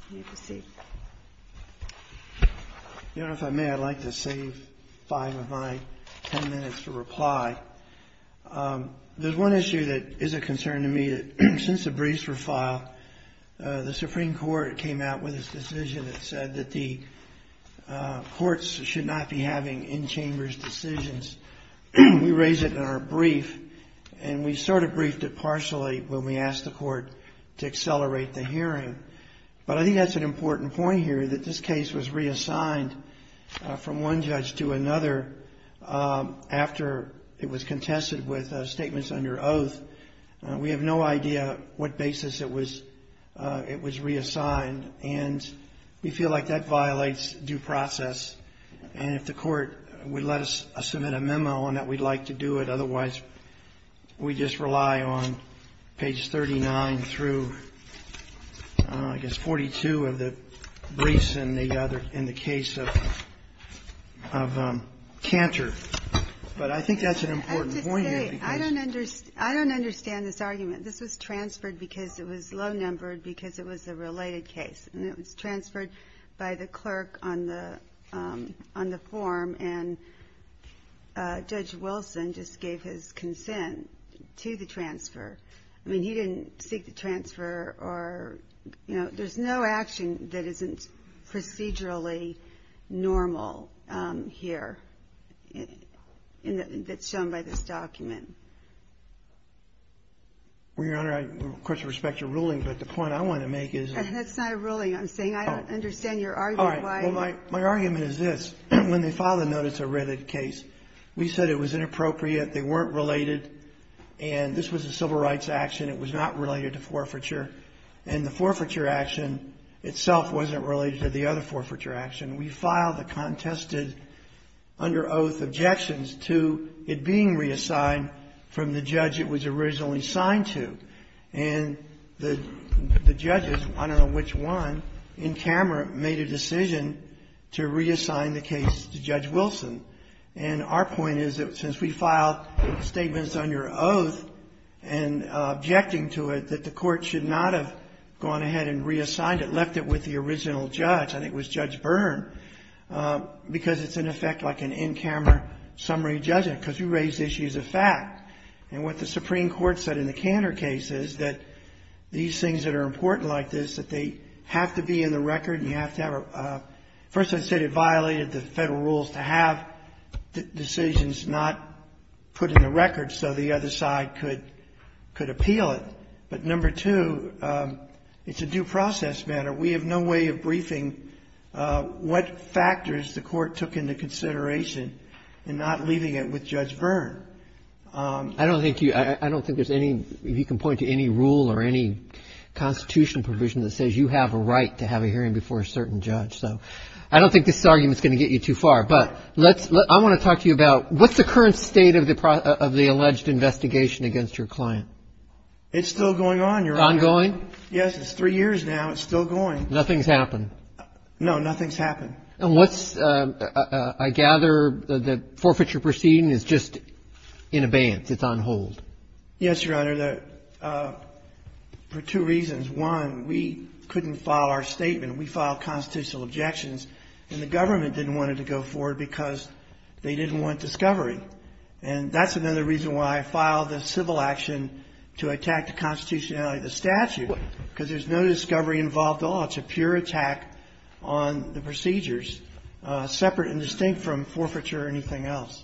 I would like to save five of my ten minutes to reply. There is one issue that is a concern to me. Since the briefs were filed, the Supreme Court came out with a decision that said that the courts should not be having in-chambers decisions. We raised it in our brief and we I think that's an important point here, that this case was reassigned from one judge to another after it was contested with statements under oath. We have no idea what basis it was reassigned, and we feel like that violates due process, and if the court would let us submit a memo on that, we'd like to do it. Otherwise, we just rely on page 39 through, I guess, 42 of the briefs in the case of Cantor. But I think that's an important point here. I don't understand this argument. This was transferred because it was low-numbered, because it was a related case, by the clerk on the form, and Judge Wilson just gave his consent to the transfer. I mean, he didn't seek the transfer or, you know, there's no action that isn't procedurally normal here that's shown by this document. Well, Your Honor, I, of course, respect your ruling, but the point I want to make is... That's not a ruling. I'm saying I don't understand your argument. All right. Well, my argument is this. When they filed a notice of writted case, we said it was inappropriate, they weren't related, and this was a civil rights action. It was not related to forfeiture. And the forfeiture action itself wasn't related to the other forfeiture action. We filed a contested under oath objections to it being reassigned from the judge it was originally assigned to. And the judges, I don't know which one, in camera made a decision to reassign the case to Judge Wilson. And our point is that since we filed statements under oath and objecting to it, that the court should not have gone ahead and reassigned it, left it with the original judge, I think it was Judge Byrne, because it's, in effect, like an in-camera summary judgment, because you raise issues of fact. And what the Supreme Court said in the Cantor case is that these things that are important like this, that they have to be in the record and you have to have a... First, I said it violated the federal rules to have decisions not put in the record so the other side could appeal it. But, number two, it's a due process matter. We have no way of briefing what factors the court took into consideration and not leaving it with Judge Byrne. I don't think there's any, if you can point to any rule or any constitutional provision that says you have a right to have a hearing before a certain judge. So I don't think this argument's going to get you too far. But I want to talk to you about what's the current state of the alleged investigation against your client? It's still going on. Ongoing? Yes, it's three years now. It's still going. Nothing's happened? No, nothing's happened. And what's, I gather, the forfeiture proceeding is just in abeyance. It's on hold. Yes, Your Honor. For two reasons. One, we couldn't file our statement. We filed constitutional objections and the government didn't want it to go forward because they didn't want discovery. And that's another reason why I filed the civil action to attack the constitutionality of the statute, because there's no discovery involved at all. It's a pure attack on the procedures, separate and distinct from forfeiture or anything else.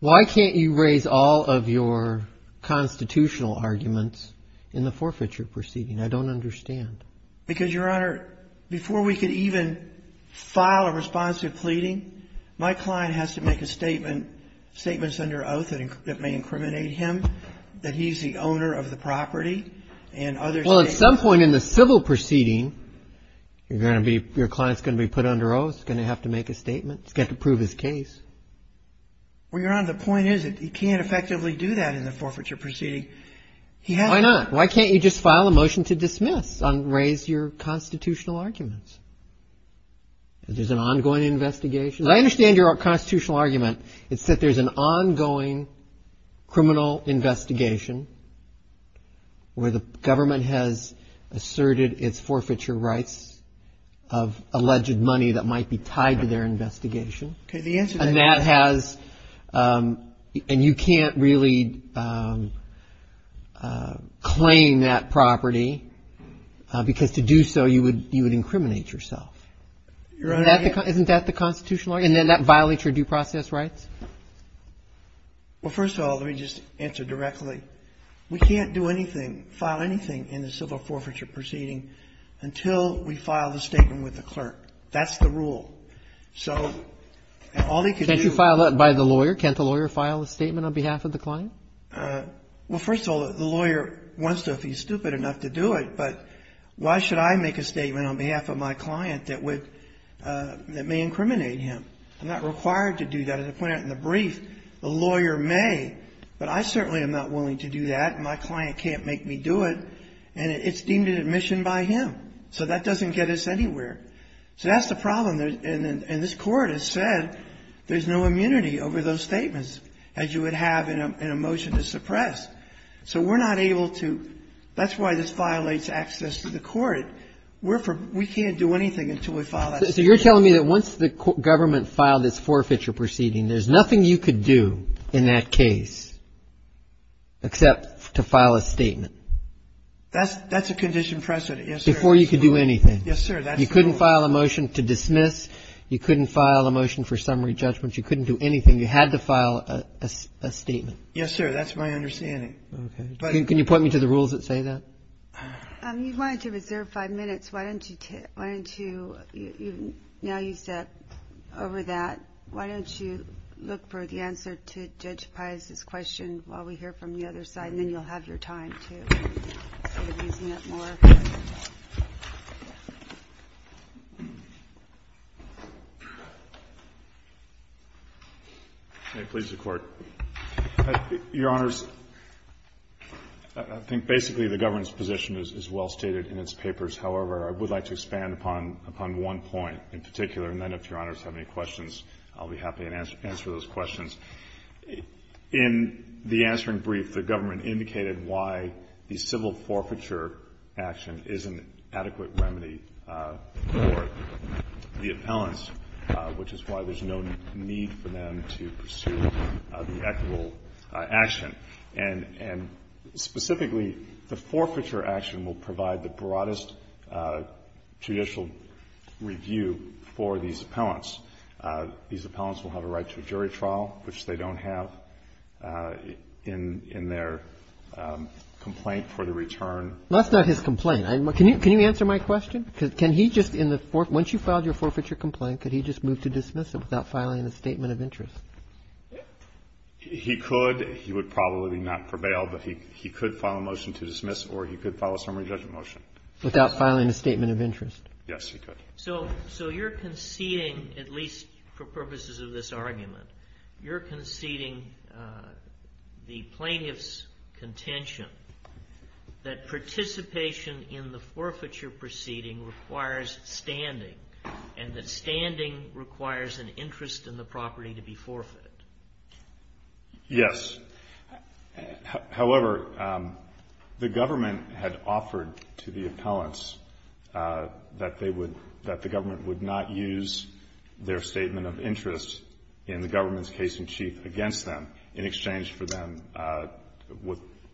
Why can't you raise all of your constitutional arguments in the forfeiture proceeding? I don't understand. Because, Your Honor, before we could even file a responsive pleading, my client has to make a Well, at some point in the civil proceeding, you're going to be, your client's going to be put under oath, going to have to make a statement. He's got to prove his case. Well, Your Honor, the point is that he can't effectively do that in the forfeiture proceeding. Why not? Why can't you just file a motion to dismiss and raise your constitutional arguments? There's an ongoing investigation. I understand your constitutional argument. It's that there's an where the government has asserted its forfeiture rights of alleged money that might be tied to their investigation. And that has, and you can't really claim that property because to do so, you would incriminate yourself. Isn't that the constitutional argument? And then that violates your due process rights? Well, first of all, let me just answer directly. We can't do anything, file anything in the civil forfeiture proceeding until we file the statement with the clerk. That's the rule. So all they could do Can't you file that by the lawyer? Can't the lawyer file a statement on behalf of the client? Well, first of all, the lawyer wants to if he's stupid enough to do it. But why should I make a statement on behalf of my client that would, that may incriminate him? I'm not required to do that. As I pointed out in the brief, the lawyer may, but I certainly am not willing to do that. And my client can't make me do it. And it's deemed an admission by him. So that doesn't get us anywhere. So that's the problem. And this Court has said there's no immunity over those statements, as you would have in a motion to suppress. So we're not able to, that's why this violates access to the Court. We can't do anything until we file that statement. So you're telling me that once the government filed this forfeiture proceeding, there's nothing you could do in that case except to file a statement? That's that's a condition precedent. Before you could do anything. Yes, sir. That you couldn't file a motion to dismiss. You couldn't file a motion for summary judgment. You couldn't do anything. You had to file a statement. Yes, sir. That's my understanding. Can you point me to the rules that say that? You wanted to reserve five minutes. Why don't you, why don't you, now you step over that, why don't you look for the answer to Judge Pius's question while we hear from the other side? And then you'll have your time to, instead of using it more. May it please the Court. Your Honors, I think basically the government's position is well stated in its papers. However, I would like to expand upon one point in particular. And then if Your Honors have any questions, I'll be happy to answer those questions. In the answering brief, the government indicated why the civil forfeiture action is an adequate remedy for the appellants, which is why there's no need for them to pursue the equitable action. And specifically, the forfeiture action will provide the broadest judicial review for these appellants. These appellants will have a right to a jury trial, which they don't have in their complaint for the return. That's not his complaint. Can you answer my question? Can he just in the forfeiture, once you filed your forfeiture complaint, could he just move to dismiss it without filing a statement of interest? He could. He would probably not prevail, but he could file a motion to dismiss, or he could file a summary judgment motion. Without filing a statement of interest? Yes, he could. So you're conceding, at least for purposes of this argument, you're conceding the plaintiff's contention that participation in the forfeiture proceeding requires standing, and that standing requires an interest in the property to be forfeited? Yes. However, the government had offered to the appellants that they would, that the government would not use their statement of interest in the government's case in chief against them in exchange for them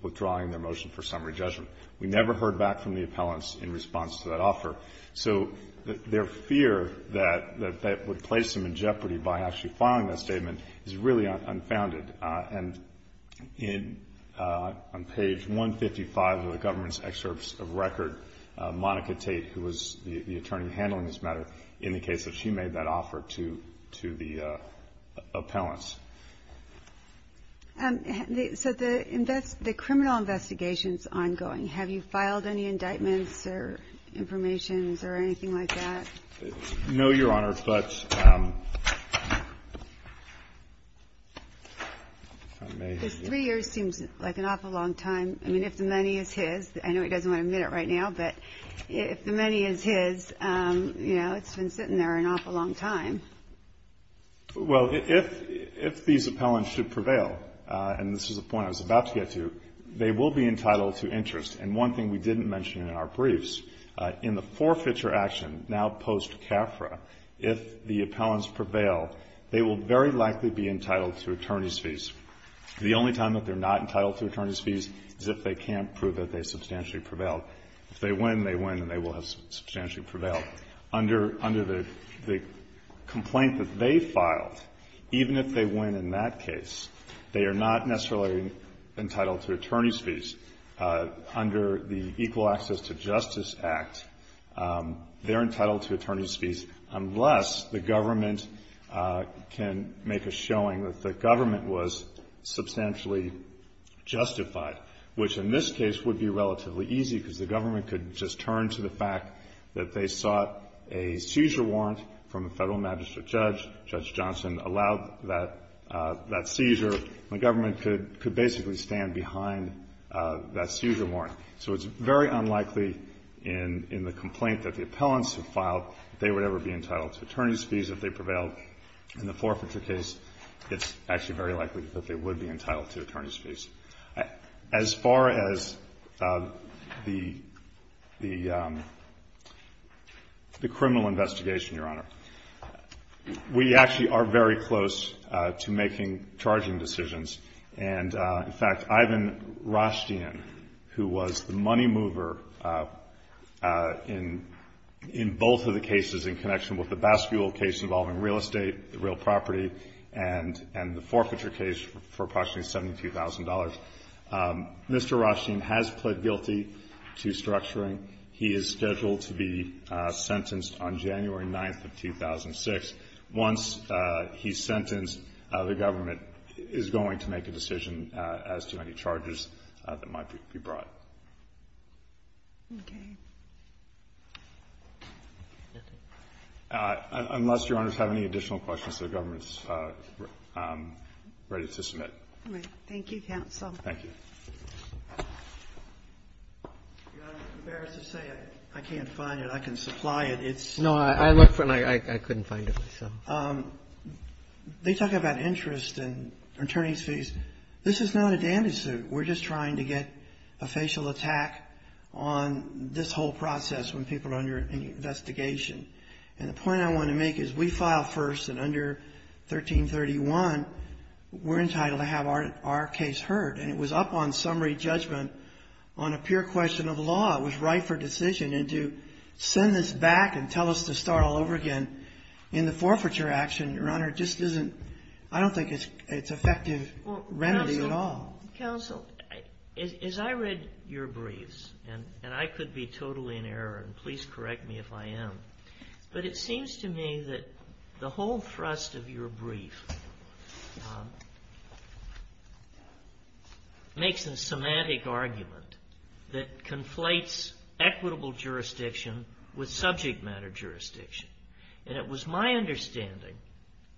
withdrawing their motion for summary judgment. We never heard back from the appellants in response to that offer. So their fear that that would place them in jeopardy by actually filing that statement is really unfounded. And in, on page 155 of the government's excerpts of record, Monica Tate, who was the attorney handling this matter, indicates that she made that offer to the appellants. So the invest, the criminal investigation's ongoing. Have you filed any indictments or informations or anything like that? No, Your Honor, but... This three years seems like an awful long time. I mean, if the money is his, I know he doesn't want to admit it right now, but if the money is his, you know, it's been sitting there an awful long time. Well, if, if these appellants should prevail, and this is a point I was about to get to, they will be entitled to interest. And one thing we didn't mention in our briefs, in the forfeiture action, now post-CAFRA, if the appellants prevail, they will very likely be entitled to attorney's fees. The only time that they're not entitled to attorney's fees is if they can't prove that they substantially prevailed. If they win, they win and they will have substantially prevailed. So under, under the complaint that they filed, even if they win in that case, they are not necessarily entitled to attorney's fees. Under the Equal Access to Justice Act, they're entitled to attorney's fees unless the government can make a showing that the government was substantially justified. Which, in this case, would be relatively easy, because the government could just turn to the fact that they sought a seizure warrant from a federal magistrate judge. Judge Johnson allowed that, that seizure. The government could, could basically stand behind that seizure warrant. So it's very unlikely in, in the complaint that the appellants have filed that they would ever be entitled to attorney's fees if they prevailed. In the forfeiture case, it's actually very likely that they would be entitled to attorney's fees. As far as the, the criminal investigation, Your Honor, we actually are very close to making charging decisions. And, in fact, Ivan Rashtian, who was the money mover in, in both of the cases in connection with the Baskule case involving real estate, real property, and, and the forfeiture case for approximately $72,000, Mr. Rashtian has pled guilty to structuring. He is scheduled to be sentenced on January 9th of 2006. Once he's sentenced, the government is going to make a decision as to any charges that might be brought. Okay. Unless Your Honors have any additional questions, the government's ready to submit. All right. Thank you, counsel. Thank you. Your Honor, I'm embarrassed to say I can't find it. I can supply it. It's not. I looked for it, and I couldn't find it. They talk about interest and attorney's fees. This is not a dandy suit. We're just trying to get a facial attack on this whole process when people are under investigation. And the point I want to make is we file first, and under 1331, we're entitled to have our, our case heard. And it was up on summary judgment on a pure question of law. It was right for decision. And to send this back and tell us to start all over again in the forfeiture action, Your Honor, just isn't, I don't think it's, it's effective remedy at all. Counsel, as I read your briefs, and I could be totally in error, and please correct me if I am, but it seems to me that the whole thrust of your brief makes a semantic argument that conflates equitable jurisdiction with subject matter jurisdiction. And it was my understanding,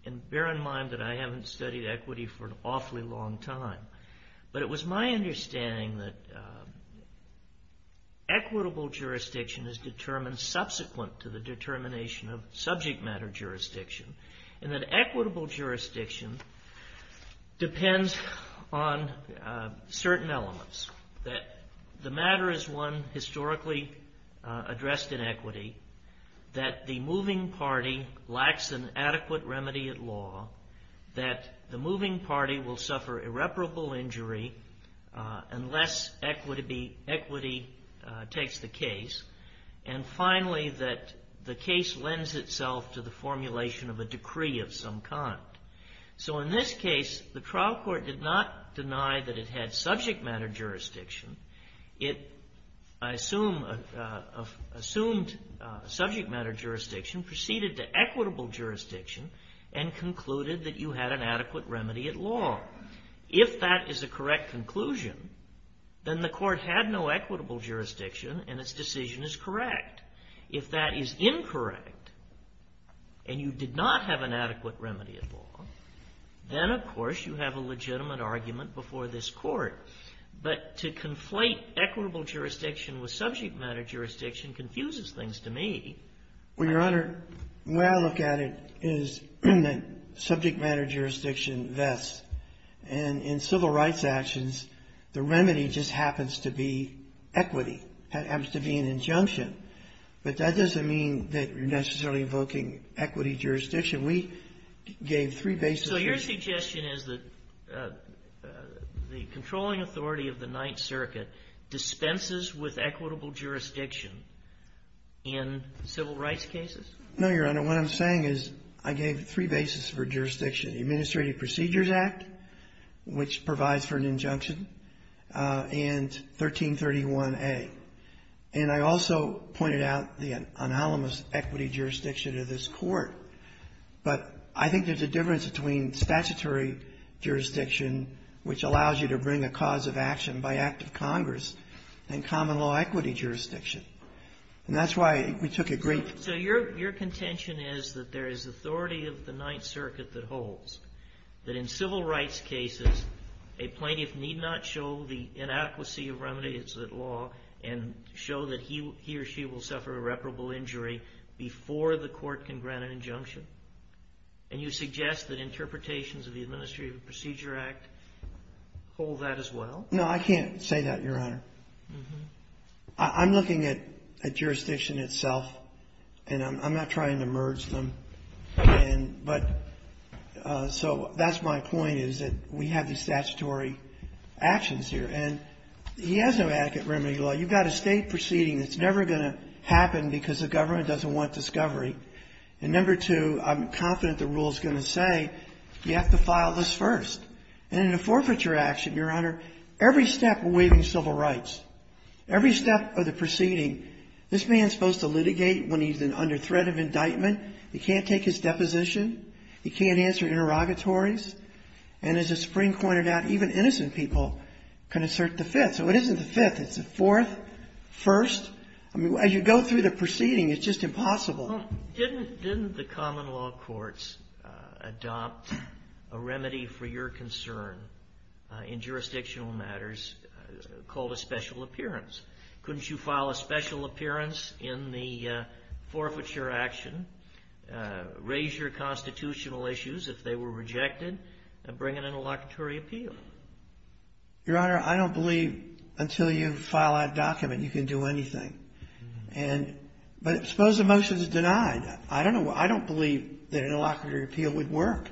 and bear in mind that I haven't studied equity for an awfully long time, but it was my understanding that equitable jurisdiction is determined subsequent to the determination of subject matter jurisdiction, and that equitable jurisdiction depends on certain elements, that the matter is one historically addressed in equity, that the moving party lacks an adequate remedy at law, that the moving party will suffer irreparable injury unless equity, equity takes the case, and finally that the case lends itself to the formulation of a decree of some kind. So in this case, the trial court did not deny that it had subject matter jurisdiction. It, I assume, assumed subject matter jurisdiction, proceeded to equitable jurisdiction, and concluded that you had an adequate remedy at law. If that is a correct conclusion, then the court had no equitable jurisdiction, and its decision is correct. If that is incorrect, and you did not have an adequate remedy at law, then of course you have a legitimate argument before this court. But to conflate equitable jurisdiction with subject matter jurisdiction confuses things to me. Well, Your Honor, the way I look at it is that subject matter jurisdiction vests, and in civil rights actions, the remedy just happens to be equity. It happens to be an injunction. But that doesn't mean that you're necessarily invoking equity jurisdiction. We gave three bases. So your suggestion is that the controlling authority of the Ninth Circuit dispenses with equitable jurisdiction in civil rights cases? No, Your Honor. What I'm saying is I gave three bases for jurisdiction. The Administrative Procedures Act, which provides for an injunction, and 1331a. And I also pointed out the anonymous equity jurisdiction of this Court. But I think there's a difference between statutory jurisdiction, which allows you to bring a cause of action by act of Congress, and common law equity jurisdiction. And that's why we took a brief. So your contention is that there is authority of the Ninth Circuit that holds, that in civil rights cases, a plaintiff need not show the inadequacy of remedies that law and show that he or she will suffer irreparable injury before the court can grant an injunction? And you suggest that interpretations of the Administrative Procedures Act hold that as well? No, I can't say that, Your Honor. I'm looking at jurisdiction itself, and I'm not trying to merge them. But so that's my point, is that we have these statutory actions here. And he has no adequate remedy law. You've got a State proceeding that's never going to happen because the government doesn't want discovery. And number two, I'm confident the rule is going to say you have to file this first. And in a forfeiture action, Your Honor, every step waiving civil rights, every step of the proceeding, this man's supposed to litigate when he's under threat of indictment. He can't take his deposition. He can't answer interrogatories. And as the Supreme Court pointed out, even innocent people can assert the fifth. So it isn't the fifth. It's the fourth, first. I mean, as you go through the proceeding, it's just impossible. Well, didn't the common law courts adopt a remedy for your concern in jurisdictional matters called a special appearance? Couldn't you file a special appearance in the forfeiture action, raise your constitutional issues if they were rejected, and bring an interlocutory appeal? Your Honor, I don't believe until you file that document you can do anything. And but suppose the motion is denied. I don't know. I don't believe that an interlocutory appeal would work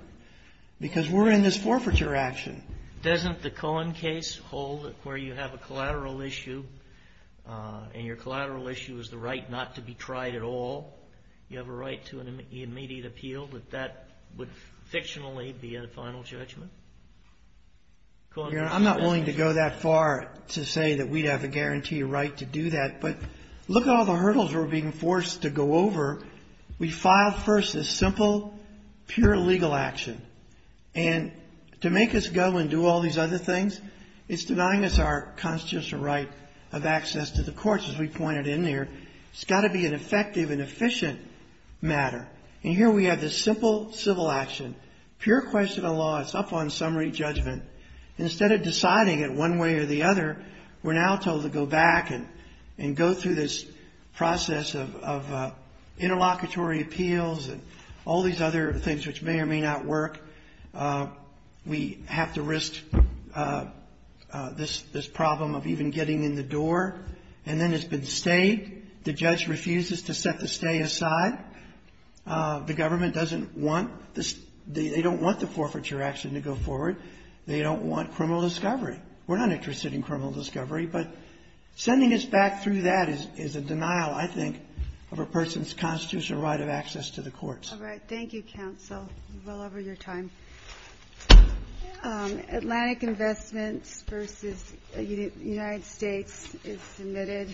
because we're in this forfeiture action. Doesn't the Cohen case hold where you have a collateral issue, and your collateral issue is the right not to be tried at all? You have a right to an immediate appeal, that that would fictionally be a final judgment? Your Honor, I'm not willing to go that far to say that we'd have a guaranteed right to do that. But look at all the hurdles we're being forced to go over. We filed first this simple, pure legal action. And to make us go and do all these other things, it's denying us our constitutional right of access to the courts, as we pointed in there. It's got to be an effective and efficient matter. And here we have this simple civil action, pure question of law. It's up on summary judgment. Instead of deciding it one way or the other, we're now told to go back and go through this process of interlocutory appeals and all these other things which may or may not work. We have to risk this problem of even getting in the door. And then it's been stayed. The judge refuses to set the stay aside. The government doesn't want this. They don't want the forfeiture action to go forward. They don't want criminal discovery. We're not interested in criminal discovery. But sending us back through that is a denial, I think, of a person's constitutional right of access to the courts. All right. Thank you, counsel. You're well over your time. Atlantic Investments v. United States is submitted.